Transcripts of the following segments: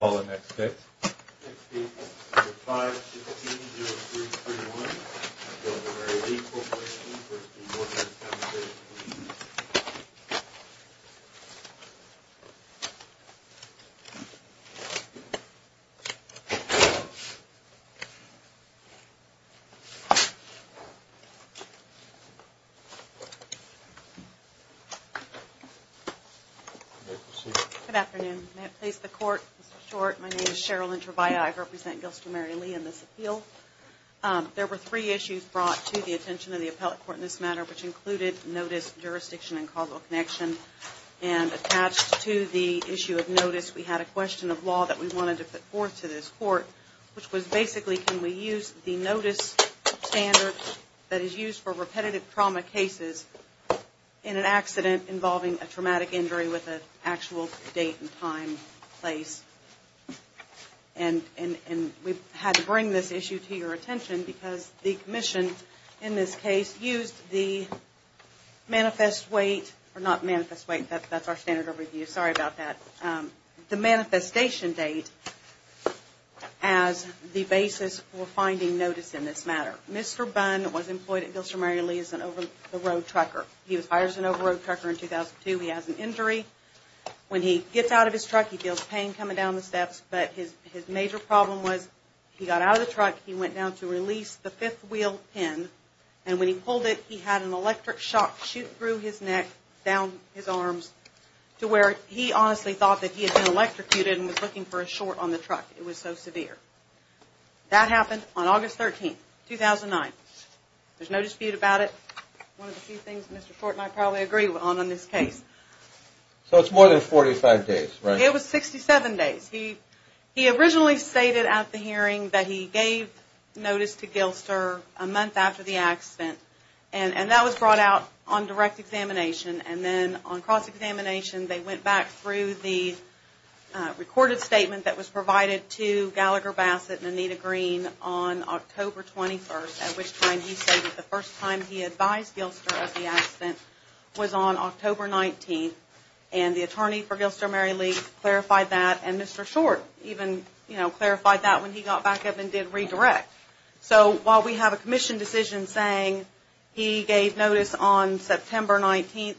forward in works to Workers' Compensation Mayor Galless I'm going to call the next case. 16-05-16, 0331-. Mary Lee Corp-. Industrial Workers' Compensation-. Good afternoon, may it please the court, Mr. Short, my name is Cheryl Introvaya, I represent Gilston Mary Lee in this appeal. There were three issues brought to the attention of the appellate court in this matter, which is a little connection, and attached to the issue of notice we had a question of law that we wanted to put forth to this court, which was basically can we use the notice standard that is used for repetitive trauma cases in an accident involving a traumatic injury with an actual date and time, place. And we had to bring this issue to your attention because the commission in this case used the manifest wait, or not manifest wait, that's our standard of review, sorry about that, the manifestation date as the basis for finding notice in this matter. Mr. Bunn was employed at Gilston Mary Lee as an over the road trucker. He was hired as an over the road trucker in 2002, he has an injury, when he gets out of his truck he feels pain coming down the steps, but his major problem was he got out of the truck, he went down to release the fifth wheel pin, and when he pulled it he had an electric shock shoot through his neck, down his arms, to where he honestly thought that he had been electrocuted and was looking for a short on the truck, it was so severe. That happened on August 13, 2009. There's no dispute about it, one of the few things Mr. Short and I probably agree on in this case. So it's more than 45 days, right? It was 67 days, he originally stated at the hearing that he gave notice to Gilster a month after the accident, and that was brought out on direct examination, and then on cross examination they went back through the recorded statement that was provided to Gallagher Bassett and Anita Green on October 21st, at which time he stated the first time he advised Gilster of the accident was on October 19th, and the attorney for Gilster Mary Lee clarified that, and Mr. Short even clarified that when he got back up and did redirect. So while we have a commission decision saying he gave notice on September 19th,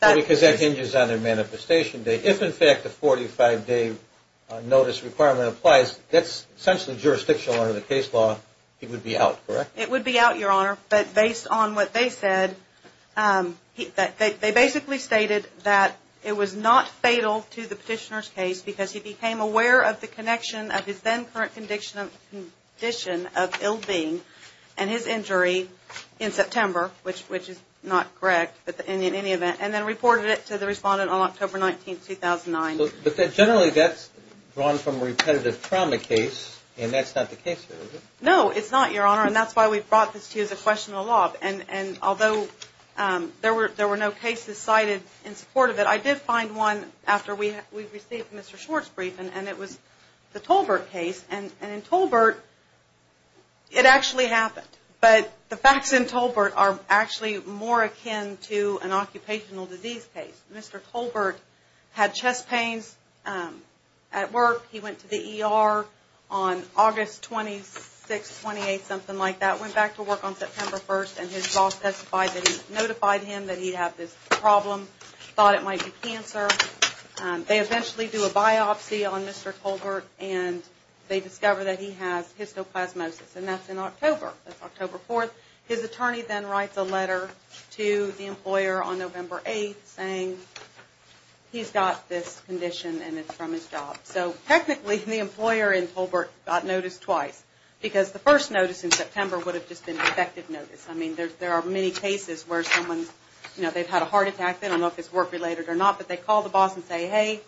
that... Because that hinges on the manifestation date, if in fact the 45 day notice requirement applies, that's essentially jurisdictional under the case law, he would be out, correct? It would be out, Your Honor, but based on what they said, they basically stated that it was not fatal to the petitioner's case because he became aware of the connection of his then current condition of ill-being and his injury in September, which is not correct, but in any event, and then reported it to the respondent on October 19th, 2009. But generally that's drawn from a repetitive trauma case, and that's not the case here, is it? No, it's not, Your Honor, and that's why we brought this to you as a question of the law, and although there were no cases cited in support of it, I did find one after we received Mr. Schwartz's brief, and it was the Tolbert case, and in Tolbert, it actually happened, but the facts in Tolbert are actually more akin to an occupational disease case. Mr. Tolbert had chest pains at work, he went to the ER on August 26th, 28th, something like that, went back to work on September 1st, and his boss testified that he notified him that he had this problem, thought it might be cancer, they eventually do a biopsy on Mr. Tolbert, and they discover that he has histoplasmosis, and that's in October, that's October 4th, his attorney then writes a letter to the employer on November 8th, saying he's got this condition, and it's from his job. So technically, the employer in Tolbert got notice twice, because the first notice in September would have just been effective notice, I mean, there are many cases where someone, you know, they've had a heart attack, they don't know if it's work-related or not, but they call the boss and say, hey,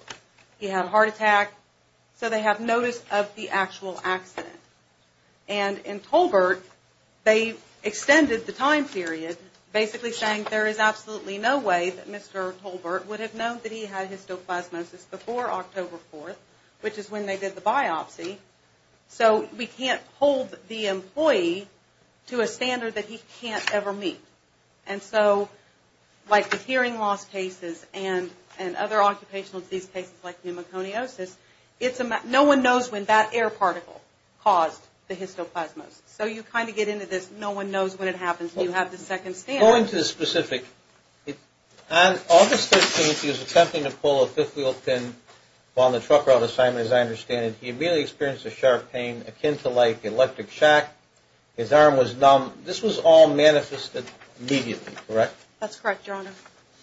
he had a heart attack, so they have notice of the actual accident. And in Tolbert, they extended the time period, basically saying there is absolutely no way that Mr. Tolbert would have known that he had histoplasmosis before October 4th, which is when they did the biopsy, so we have hearing loss cases and other occupational disease cases, like pneumoconiosis, no one knows when that air particle caused the histoplasmosis, so you kind of get into this, no one knows when it happens, and you have the second standard. Going to the specific, on August 13th, he was attempting to pull a fifth-wheel pin while in the trucker-out assignment, as I understand it, he immediately experienced a sharp pain akin to, like, electric shock, his arm was numb, this was all manifested immediately, correct? That's correct, Your Honor.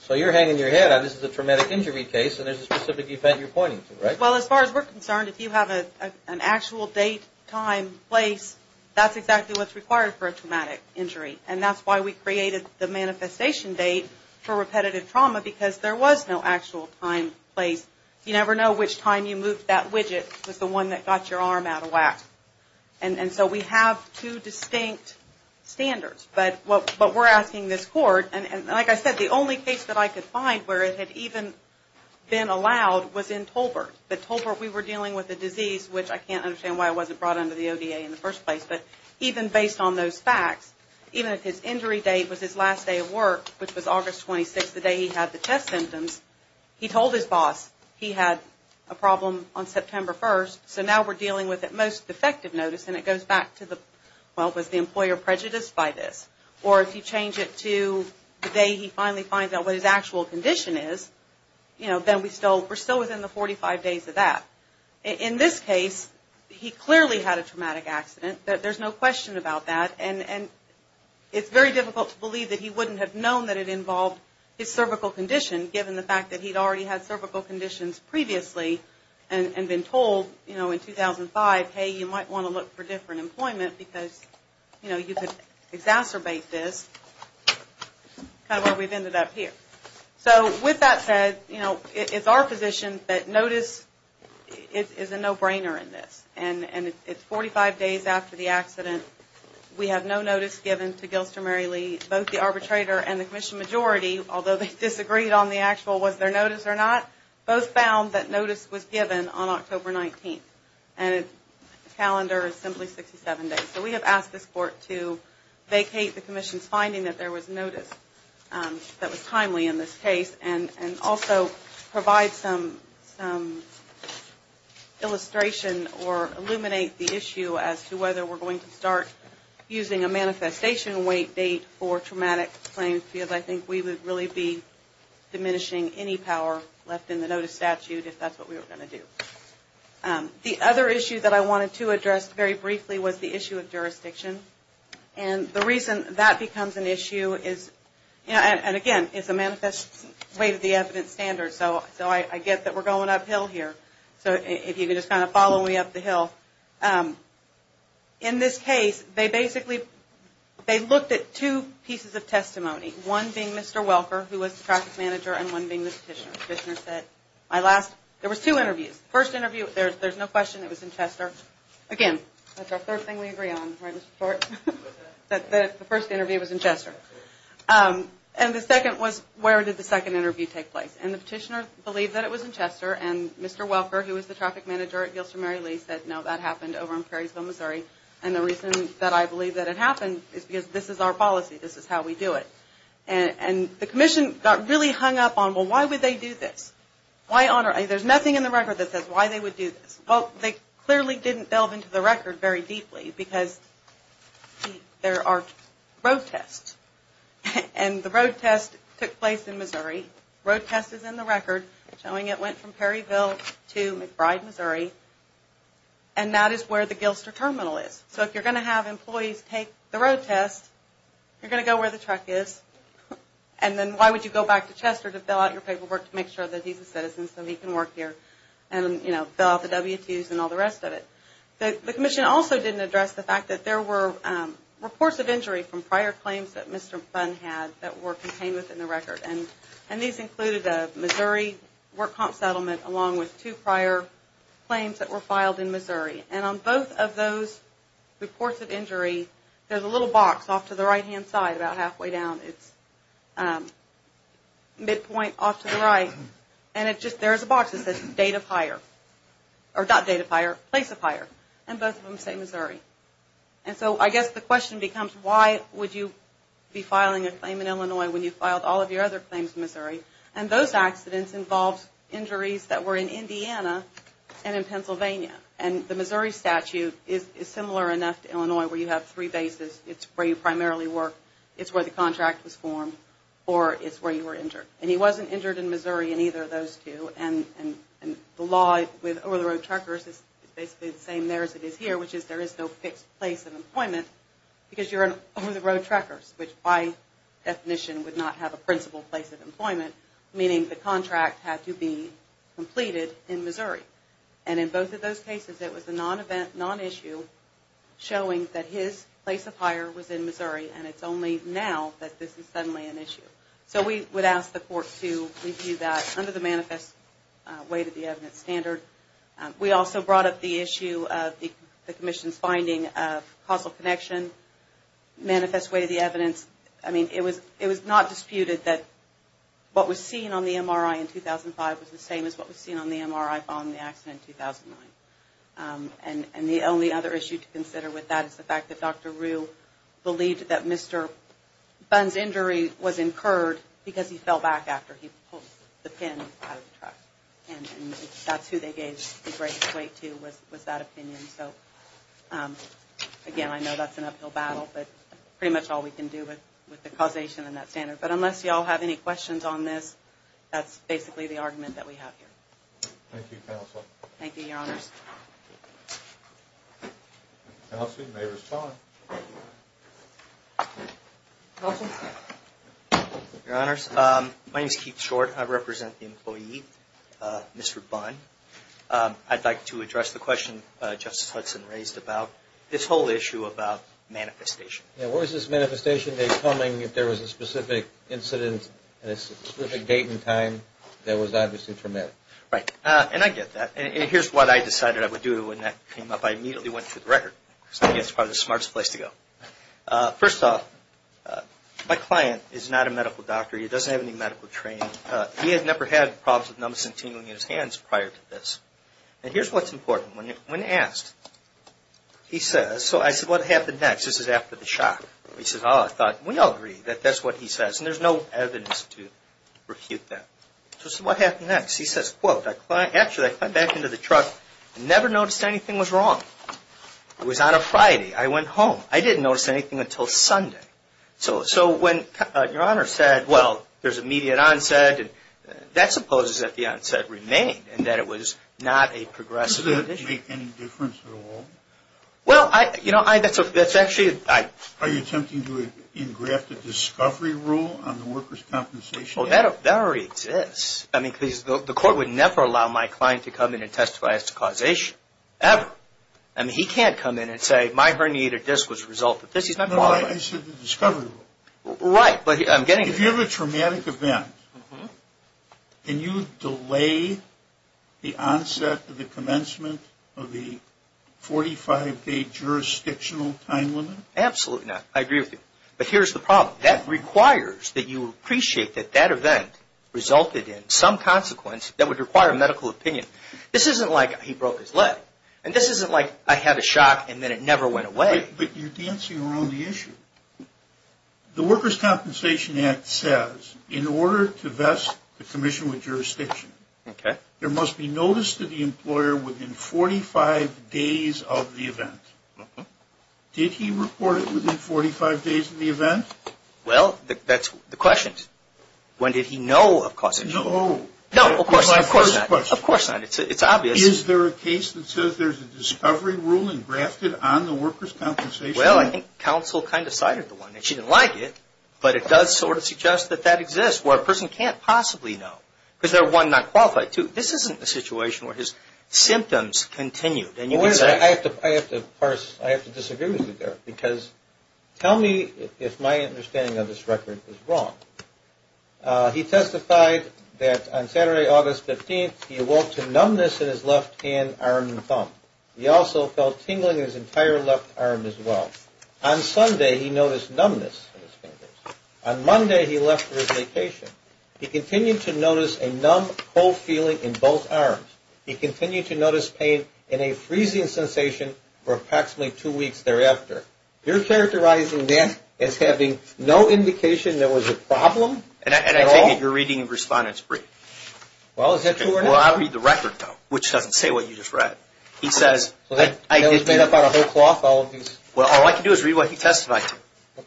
So you're hanging your head on, this is a traumatic injury case, and there's a specific event you're pointing to, right? Well, as far as we're concerned, if you have an actual date, time, place, that's exactly what's required for a traumatic injury, and that's why we created the manifestation date for repetitive trauma, because there was no actual time, place, you never know which time you moved that widget, was the one that got your arm out of whack. And so we have two distinct standards, but we're asking this court, and like I said, the only case that I could find where it had even been allowed was in Tolbert, but Tolbert, we were dealing with a disease, which I can't understand why it wasn't brought under the ODA in the first place, but even based on those facts, even if his injury date was his last day of work, which was August 26th, the day he had the chest symptoms, he told his boss he had a problem on effective notice, and it goes back to the, well, was the employer prejudiced by this? Or if you change it to the day he finally finds out what his actual condition is, you know, then we're still within the 45 days of that. In this case, he clearly had a traumatic accident, there's no question about that, and it's very difficult to believe that he wouldn't have known that it involved his cervical condition, given the fact that he'd already had cervical conditions previously, and been told, you know, in 2005, hey, you might want to look for different employment because, you know, you could exacerbate this, kind of where we've ended up here. So, with that said, you know, it's our position that notice is a no-brainer in this, and it's 45 days after the accident, we have no notice given to Gilster Mary Lee, both the arbitrator and the commission majority, although they disagreed on the actual was found that notice was given on October 19th, and the calendar is simply 67 days. So we have asked this court to vacate the commission's finding that there was notice that was timely in this case, and also provide some illustration or illuminate the issue as to whether we're going to start using a manifestation wait date for traumatic claims, because I think we would really be using a statute if that's what we were going to do. The other issue that I wanted to address very briefly was the issue of jurisdiction, and the reason that becomes an issue is, and again, it's a manifest way to the evidence standard, so I get that we're going uphill here, so if you can just kind of follow me up the hill. In this case, they basically, they looked at two pieces of testimony, one being Mr. Welker, who was the practice manager, and one being the petitioner. The petitioner said, my last, there was two interviews. The first interview, there's no question it was in Chester. Again, that's our third thing we agree on, right, Mr. Short? That the first interview was in Chester. And the second was, where did the second interview take place? And the petitioner believed that it was in Chester, and Mr. Welker, who was the traffic manager at Gilster Mary Lee, said, no, that happened over in Prairiesville, Missouri, and the reason that I believe that it happened is because this is our policy. This is how we do it. And the commission got really hung up on, well, why would they do this? Why, there's nothing in the record that says why they would do this. Well, they clearly didn't delve into the record very deeply, because there are road tests, and the road test took place in Missouri. The road test is in the record, showing it went from Prairieville to McBride, Missouri, and that is where the Gilster terminal is. So if you're going to have employees take the road test, you're going to go where the truck is, and then why would you go back to Chester to fill out your paperwork to make sure that he's a citizen, so he can work here, and, you know, fill out the W2s and all the rest of it. The commission also didn't address the fact that there were reports of injury from prior claims that Mr. Bunn had that were contained within the record, and these included a Missouri work comp settlement along with two prior claims that were filed in Missouri. And on both of those reports of injury, there's a little box off to the right-hand side, about halfway down. It's midpoint off to the right, and there's a box that says date of hire, or not date of hire, place of hire, and both of them say Missouri. And so I guess the question becomes why would you be filing a claim in Illinois when you filed all of your other claims in Missouri, and those accidents involved injuries that were in Indiana and in Illinois, where you have three bases. It's where you primarily work, it's where the contract was formed, or it's where you were injured. And he wasn't injured in Missouri in either of those two, and the law with over-the-road truckers is basically the same there as it is here, which is there is no fixed place of employment, because you're an over-the-road trucker, which by definition would not have a principled place of employment, meaning the contract had to be completed in Missouri. And in both of those cases, it was a non-event, non-issue, and it was a non-event showing that his place of hire was in Missouri, and it's only now that this is suddenly an issue. So we would ask the court to review that under the manifest way-to-the-evidence standard. We also brought up the issue of the Commission's finding of causal connection, manifest way-to-the-evidence. I mean, it was not disputed that what was seen on the MRI in 2005 was the same as what was seen on the MRI on the day of the accident in 2009. And the only other issue to consider with that is the fact that Dr. Rue believed that Mr. Bunn's injury was incurred because he fell back after he pulled the pin out of the truck. And that's who they gave the great weight to was that opinion. So again, I know that's an uphill battle, but pretty much all we can do with the causation and that standard. But unless you all have any questions on this, that's basically the argument that we have here. Thank you, Counsel. Counsel, you may respond. Counsel? Your Honors, my name is Keith Short. I represent the employee, Mr. Bunn. I'd like to address the question Justice Hudson raised about this whole issue about manifestation. Yeah, where is this manifestation day coming if there was a specific incident at a specific date and time that was obviously traumatic? Right. And I get that. And here's what I decided I would do when that came up. I immediately went through the record because I think that's probably the smartest place to go. First off, my client is not a medical doctor. He doesn't have any medical training. He had never had problems with numbness and tingling in his hands prior to this. And here's what's important. When asked, he said, well, it was after the shock. He said, oh, I thought, we all agree that that's what he says. And there's no evidence to refute that. So I said, what happened next? He says, well, actually, I climbed back into the truck and never noticed anything was wrong. It was on a Friday. I went home. I didn't notice anything until Sunday. So when your Honor said, well, there's immediate onset, that supposes that the onset remained and that it was not a progressive condition. Does that make any difference at all? Well, you know, that's actually... Are you attempting to engraft a discovery rule on the workers' compensation? Well, that already exists. I mean, the court would never allow my client to come in and testify as to causation. Ever. I mean, he can't come in and say, my herniated disc was the result of this. He's not going to lie. I said the discovery rule. Right. But I'm getting... If you have a traumatic event, can you delay the onset to the commencement of the 45-day jurisdictional time limit? Absolutely not. I agree with you. But here's the problem. That requires that you appreciate that that event resulted in some consequence that would require medical opinion. This isn't like he broke his leg. And this isn't like I had a shock and then it never went away. But you're dancing around the issue. The Workers' Compensation Act says, in order to vest the commission with jurisdiction, there must be notice to the employer within 45 days of the event. Did he report it within 45 days of the event? Well, that's the question. When did he know of causation? No. No, of course not. Of course not. It's obvious. Is there a case that says there's a discovery rule engrafted on the workers' compensation? Well, I think counsel kind of cited the one. And she didn't like it. But it does sort of suggest that that exists, where a person can't possibly know. Because they're, one, not qualified. Two, this isn't a situation where his symptoms continued. I have to disagree with you there. Because tell me if my understanding of this record is wrong. He testified that on Saturday, August 15, he awoke to numbness in his left hand, arm, and thumb. He also felt tingling in his entire left arm as well. On Sunday, he noticed numbness in his fingers. On Monday, he noticed numbness in his left wrist location. He continued to notice a numb, cold feeling in both arms. He continued to notice pain and a freezing sensation for approximately two weeks thereafter. You're characterizing that as having no indication there was a problem at all? And I take it you're reading the respondent's brief. Well, is that true or not? Well, I'll read the record, though, which doesn't say what you just read. He says... So that was made up out of whole cloth, all of these? Well, all I can do is read what he testified to.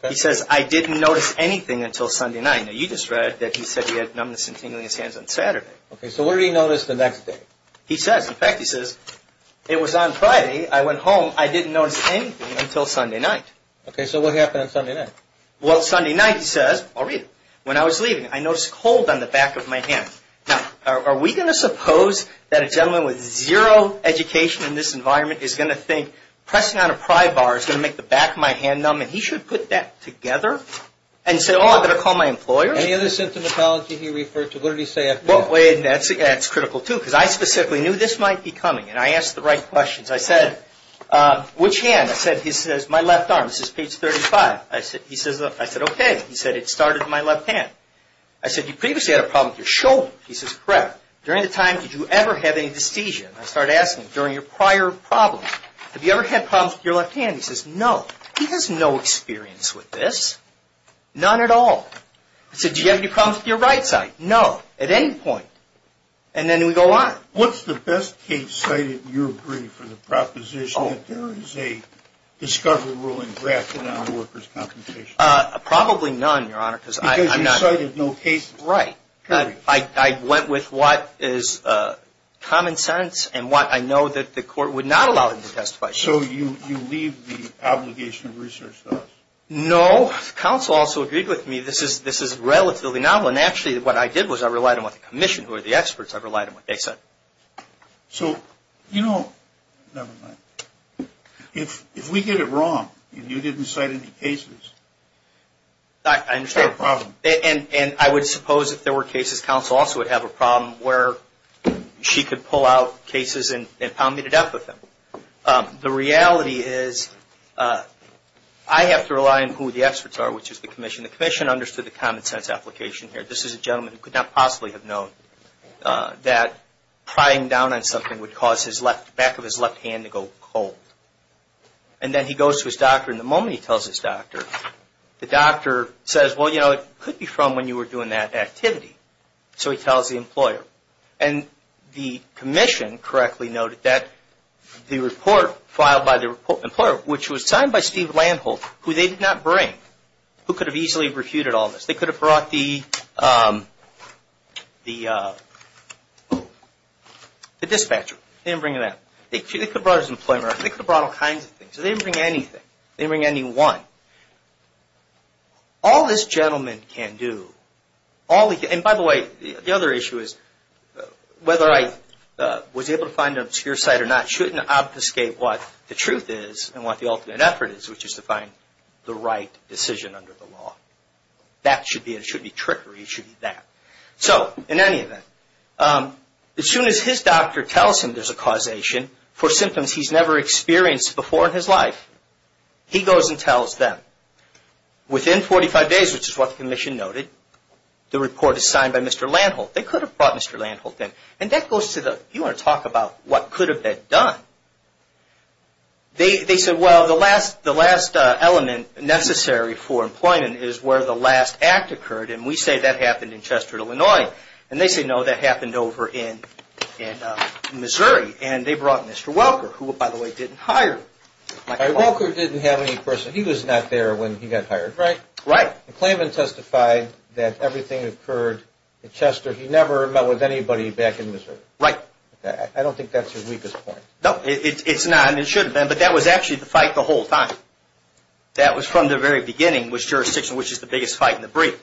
He says, I didn't notice anything until Sunday night. Now, you just read that he said he had numbness and tingling in his hands on Saturday. Okay, so what did he notice the next day? He says, in fact, he says, it was on Friday. I went home. I didn't notice anything until Sunday night. Okay, so what happened on Sunday night? Well, Sunday night, he says... I'll read it. When I was leaving, I noticed a cold on the back of my hand. Now, are we going to suppose that a gentleman with zero education in this environment is going to think pressing on a pry bar is going to make the back of my hand numb? And say, oh, I better call my employer? Any other symptomatology he referred to? What did he say after that? That's critical, too, because I specifically knew this might be coming, and I asked the right questions. I said, which hand? I said, he says, my left arm. This is page 35. I said, okay. He said, it started in my left hand. I said, you previously had a problem with your shoulder. He says, correct. During the time, did you ever have any dysthesia? I started asking him, during your prior problems, have you ever had problems with your left hand? He said, no. He has no experience with this. None at all. I said, do you have any problems with your right side? No. At any point. And then we go on. What's the best case cited in your brief for the proposition that there is a discovery ruling drafted on a worker's compensation? Probably none, Your Honor, because I'm not... Because you cited no cases. Right. I went with what is common sense and what I know that the court would not allow them to testify to. So you leave the obligation of research to us? No. Counsel also agreed with me. This is relatively novel. And actually, what I did was I relied on what the commission, who are the experts, I relied on what they said. So, you know... Never mind. If we get it wrong, and you didn't cite any cases... I understand. And I would suppose if there were cases, counsel also would have a problem where she could pull out cases and pound me to death with them. But the reality is, I have to rely on who the experts are, which is the commission. The commission understood the common sense application here. This is a gentleman who could not possibly have known that prying down on something would cause the back of his left hand to go cold. And then he goes to his doctor, and the moment he tells his doctor, the doctor says, well, you know, it could be from when you were doing that activity. So he tells the employer. And the commission correctly noted that the report filed by the employer, which was signed by Steve Landholt, who they did not bring, who could have easily refuted all this. They could have brought the dispatcher. They didn't bring that. They could have brought his employer. They could have brought all kinds of things. They didn't bring anything. They didn't bring anyone. All this gentleman can do... And by the way, the other issue is, whether I was able to find an obscure site or not shouldn't obfuscate what the truth is and what the ultimate effort is, which is to find the right decision under the law. That should be it. It shouldn't be trickery. It should be that. So, in any event, as soon as his doctor tells him there's a causation for symptoms he's never experienced before in his life, he goes and tells them. Within 45 days, which is what the commission noted, the report is signed by Mr. Landholt. They could have brought Mr. Landholt in. And that goes to the... You want to talk about what could have been done. They said, well, the last element necessary for employment is where the last act occurred. And we say that happened in Chester, Illinois. And they say, no, that happened over in Missouri. And they brought Mr. Welker, who, by the way, didn't hire... Welker didn't have any person. He was not there when he got hired. Clayvin testified that everything occurred in Chester. He never met with anybody back in Missouri. I don't think that's your weakest point. No, it's not. And it shouldn't have been. But that was actually the fight the whole time. That was from the very beginning, which jurisdiction, which is the biggest fight in the brief.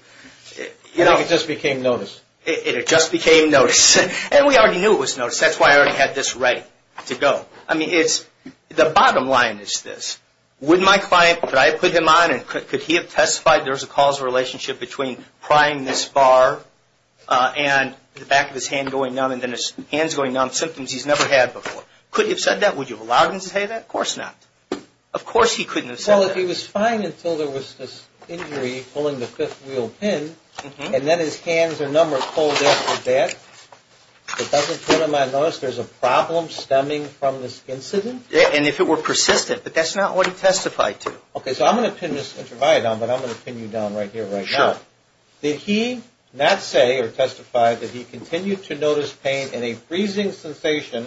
I think it just became notice. It just became notice. And we already knew it was notice. That's why I already had this ready to go. I mean, it's... The bottom line is this. Would my client... Could I put him on? And could he have testified there was a causal relationship between prying this bar and the back of his hand going numb and then his hands going numb, symptoms he's never had before? Could he have said that? Would you have allowed him to say that? Of course not. Of course he couldn't have said that. Well, if he was fine until there was this injury pulling the fifth wheel pin and then his hands are numb or cold after that, it doesn't put him on notice there's a problem stemming from this incident? And if it were persistent. But that's not what he testified to. Okay. So I'm going to pin this interview down, but I'm going to pin you down right here, right now. Did he not say or testify that he continued to notice pain and a freezing sensation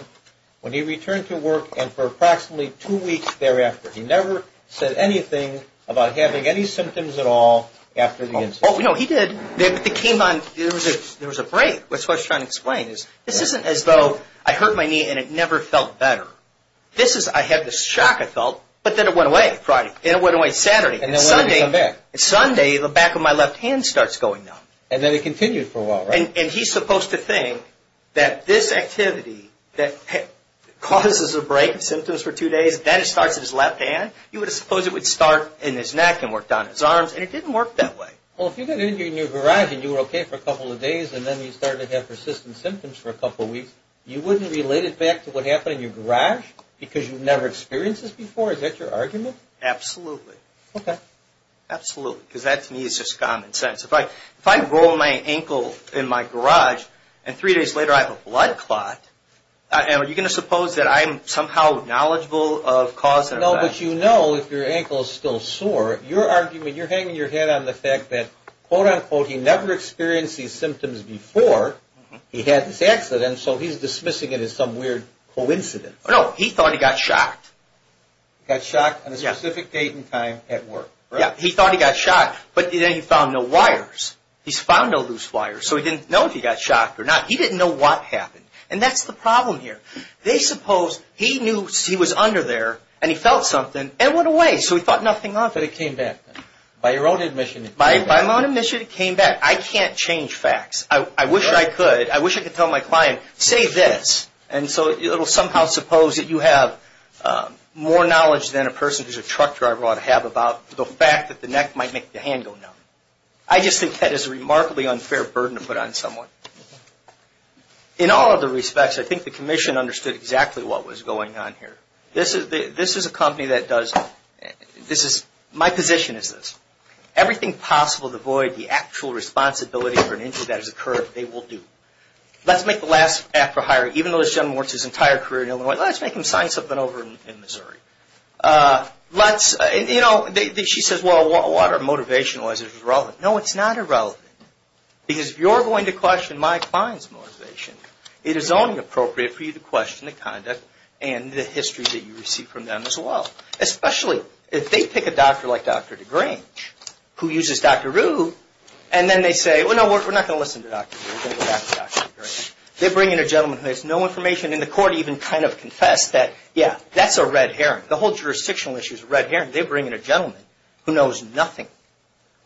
when he returned to work and for approximately two weeks thereafter? He never said anything about having any symptoms at all after the incident? Oh, no, he did. There was a break. That's what I was trying to explain. This isn't as though I hurt my knee and it never felt better. This is I had this shock I felt, but then it went away Friday. Then it went away Saturday. And then when did it come back? Sunday, the back of my left hand starts going numb. And then it continued for a while, right? And he's supposed to think that this activity that causes a break, symptoms for two days, then it starts at his left hand, you would suppose it would start in his neck and work down his arms, and it didn't work that way. Well, if you got injured in your garage and you were okay for a couple of days and then you started to have persistent symptoms for a couple weeks, you wouldn't relate it back to what happened in your garage because you've never experienced this before? Is that your argument? Absolutely. Okay. Absolutely. Because that to me is just common sense. If I roll my ankle in my garage and three days later I have a blood clot, are you going to suppose that I'm somehow knowledgeable of cause and effect? No, but you know if your hanging your head on the fact that quote-unquote he never experienced these symptoms before, he had this accident, so he's dismissing it as some weird coincidence. No, he thought he got shocked. Got shocked on a specific date and time at work, right? Yeah, he thought he got shocked, but then he found no wires. He's found no loose wires, so he didn't know if he got shocked or not. He didn't know what happened. And that's the problem here. They suppose he knew he was under there and he felt something and it went away, so he thought nothing of it. But it came back. By your own admission it came back. By my own admission it came back. I can't change facts. I wish I could. I wish I could tell my client say this, and so it will somehow suppose that you have more knowledge than a person who's a truck driver ought to have about the fact that the neck might make the hand go numb. I just think that is a remarkably unfair burden to put on someone. In all other respects, I think the commission understood exactly what was going on here. This is a company that does, this is, my position is this. Everything possible to avoid the actual responsibility for an injury that has occurred they will do. Let's make the last act for hiring, even though this gentleman works his entire career in Illinois, let's make him sign something over in Missouri. Let's, you know, she says, well, what are motivationalizers irrelevant? No, it's not irrelevant. Because if you're going to question my client's motivation, it is only appropriate for you to question the conduct and the history that you receive from them as well. Especially if they pick a doctor like Dr. DeGrange, who uses Dr. Rue, and then they say, well, no, we're not going to listen to Dr. Rue. We're going to go back to Dr. DeGrange. They bring in a gentleman who has no information, and the court even kind of confessed that, yeah, that's a red herring. The whole jurisdictional issue is a red herring. They bring in a gentleman who knows nothing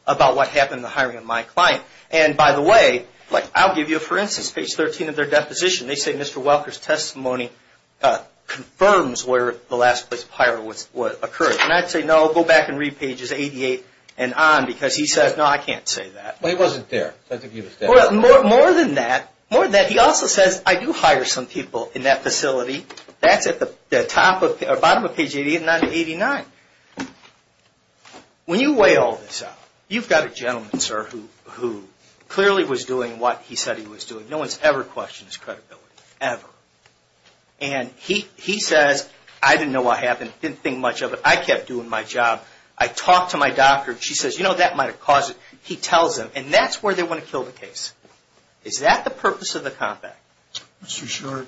about what happened in the hiring of my client. And, by the way, I'll give you, for instance, page 13 of their deposition. They say, Mr. Welker's testimony confirms where the last place of hire occurred. And I'd say, no, go back and read pages 88 and on, because he says, no, I can't say that. But he wasn't there. I think he was there. More than that, he also says, I do hire some people in that facility. That's at the bottom of page 88 and not in 89. When you weigh all this out, you've got a gentleman, sir, who clearly was doing what he said he was doing. No one's ever questioned his credibility, ever. And he says, I didn't know what happened. I didn't think much of it. I kept doing my job. I talked to my doctor. She says, you know, that might have caused it. He tells him. And that's where they want to kill the case. Is that the purpose of the compact? Mr. Sherrod?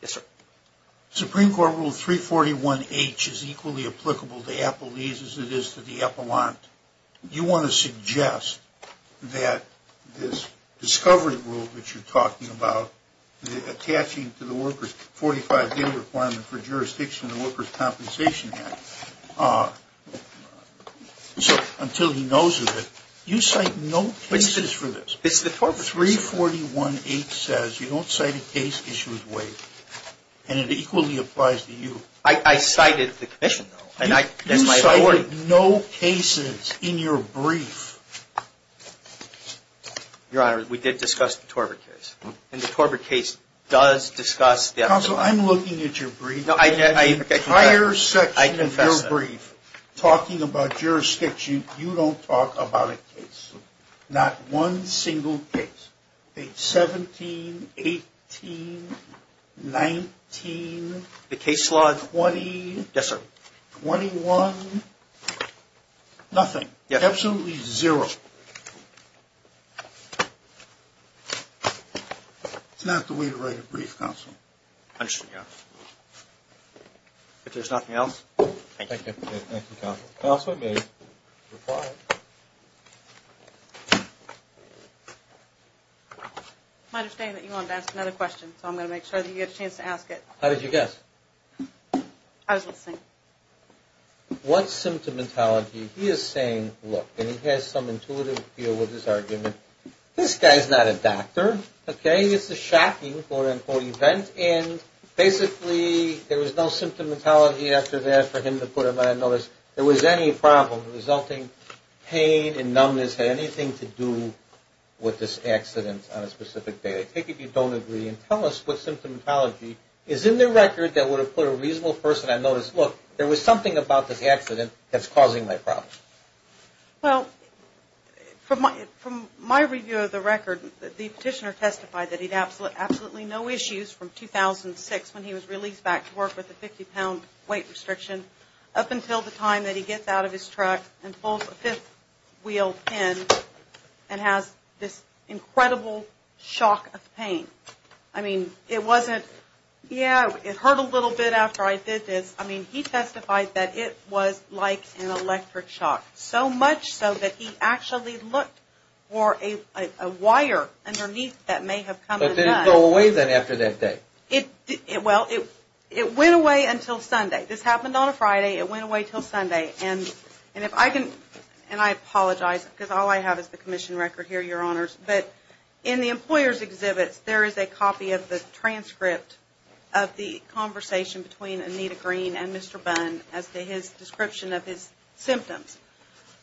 Yes, sir. Supreme Court Rule 341H is equally applicable to Applebee's as it is to the Epelant. You want to suggest that this is a case where you're talking about attaching to the workers 45-day requirement for jurisdiction of the Workers' Compensation Act. So until he knows of it, you cite no cases for this. 341H says you don't cite a case issued waived. And it equally applies to you. I cited the commission, though. You cited no cases in your brief. Your Honor, we did discuss the Torbert case. And the Torbert case does discuss the Epelant. Counsel, I'm looking at your brief. The entire section of your brief talking about jurisdiction, you don't talk about a case. Not one single case. 17, 18, 19, 20, 21, nothing. Absolutely zero. It's not the way to write a brief, Counsel. I understand, Your Honor. If there's nothing else, thank you. Thank you, Counsel. Counsel, I may reply. I understand that you wanted to ask another question, so I'm going to make sure that you get a chance to ask it. How did you guess? I was listening. What symptomatology? He is saying, look, and he has some intuitive feel with his argument, this guy's not a doctor. Okay? It's a shocking, quote-unquote, event. And basically there was no symptomatology after that for him to put him on. I noticed there was any problem. The resulting pain and numbness had anything to do with this accident on a specific day. I take it you don't agree. And tell us what symptomatology is in the record that would have put a reasonable person, I noticed, look, there was something about this accident that's causing my problem. Well, from my review of the record, the petitioner testified that he had absolutely no issues from 2006 when he was released back to work with a 50-pound weight restriction up until the time that he gets out of his truck and pulls a fifth-wheel pin and has this incredible shock of pain. I mean, it wasn't Yeah, it hurt a little bit after I did this. I mean, he testified that it was like an electric shock, so much so that he actually looked for a wire underneath that may have come undone. But did it go away then after that day? Well, it went away until Sunday. This happened on a Friday. It went away until Sunday. And if I can, and I apologize because all I have is the commission record here, your honors, but in the employer's exhibits there is a copy of the transcript of the conversation between Anita Green and Mr. Bunn as to his description of his symptoms.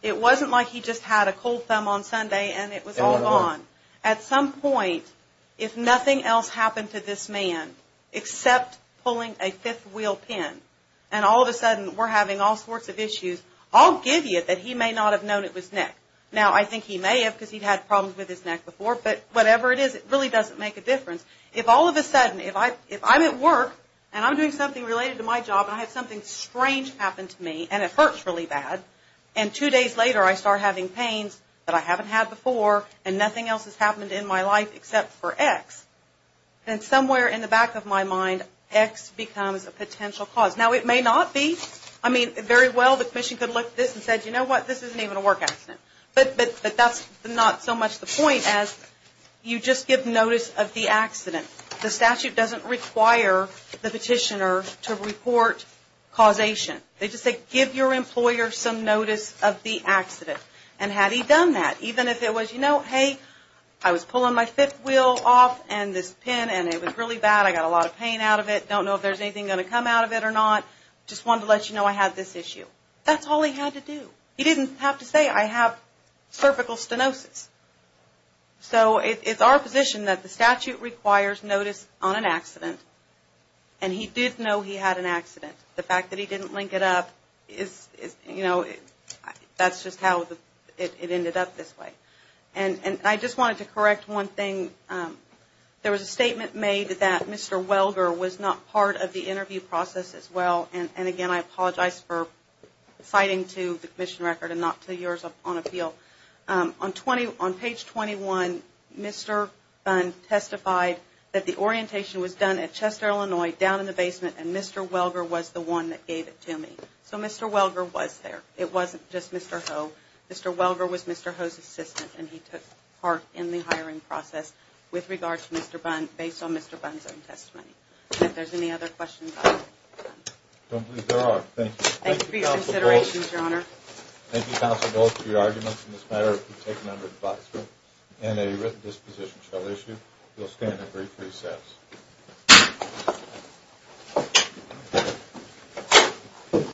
It wasn't like he just had a cold thumb on Sunday and it was all gone. At some point, if nothing else happened to this man except pulling a fifth-wheel pin and all of a sudden we're having all sorts of issues, I'll give you it that he may not have known it was neck. Now, I think he may have because he'd had problems with his neck before, but whatever it is, it really doesn't make a difference. If all of a sudden, if I'm at work and I'm doing something related to my job and I have something strange happen to me and it hurts really bad, and two days later I start having pains that I haven't had before and nothing else has happened in my life except for X, then somewhere in the back of my mind X becomes a potential cause. Now, it may not be, I mean, very well the commission could look at this and say, you know what, this isn't even a work accident. But that's not so much the point as you just give notice of the accident. The statute doesn't require the petitioner to report causation. They just say give your employer some notice of the accident. And had he done that, even if it was, you know, hey, I was pulling my fifth-wheel off and this pin and it was really bad, I got a lot of pain out of it, don't know if there's anything going to come out of it or not, just wanted to let you know I had this issue. That's all he had to do. He didn't have to say I have cervical stenosis. So it's our position that the statute requires notice on an accident and he did know he had an accident. The fact that he didn't link it up is, you know, that's just how it ended up this way. And I just wanted to correct one thing. There was a statement made that Mr. Welger was not part of the interview process as well. And again, I apologize for moving the commission record and not to yours on appeal. On page 21, Mr. Bunn testified that the orientation was done at Chester, Illinois, down in the basement, and Mr. Welger was the one that gave it to me. So Mr. Welger was there. It wasn't just Mr. Ho. Mr. Welger was Mr. Ho's assistant and he took part in the hiring process with regard to Mr. Bunn, based on Mr. Bunn's own testimony. If there's any other questions, I'll get to them. I don't believe there are. Thank you. Thank you, Counsel Goltz, for your arguments in this matter. If you take them under advice and a written disposition shall issue, you'll stand at brief recess.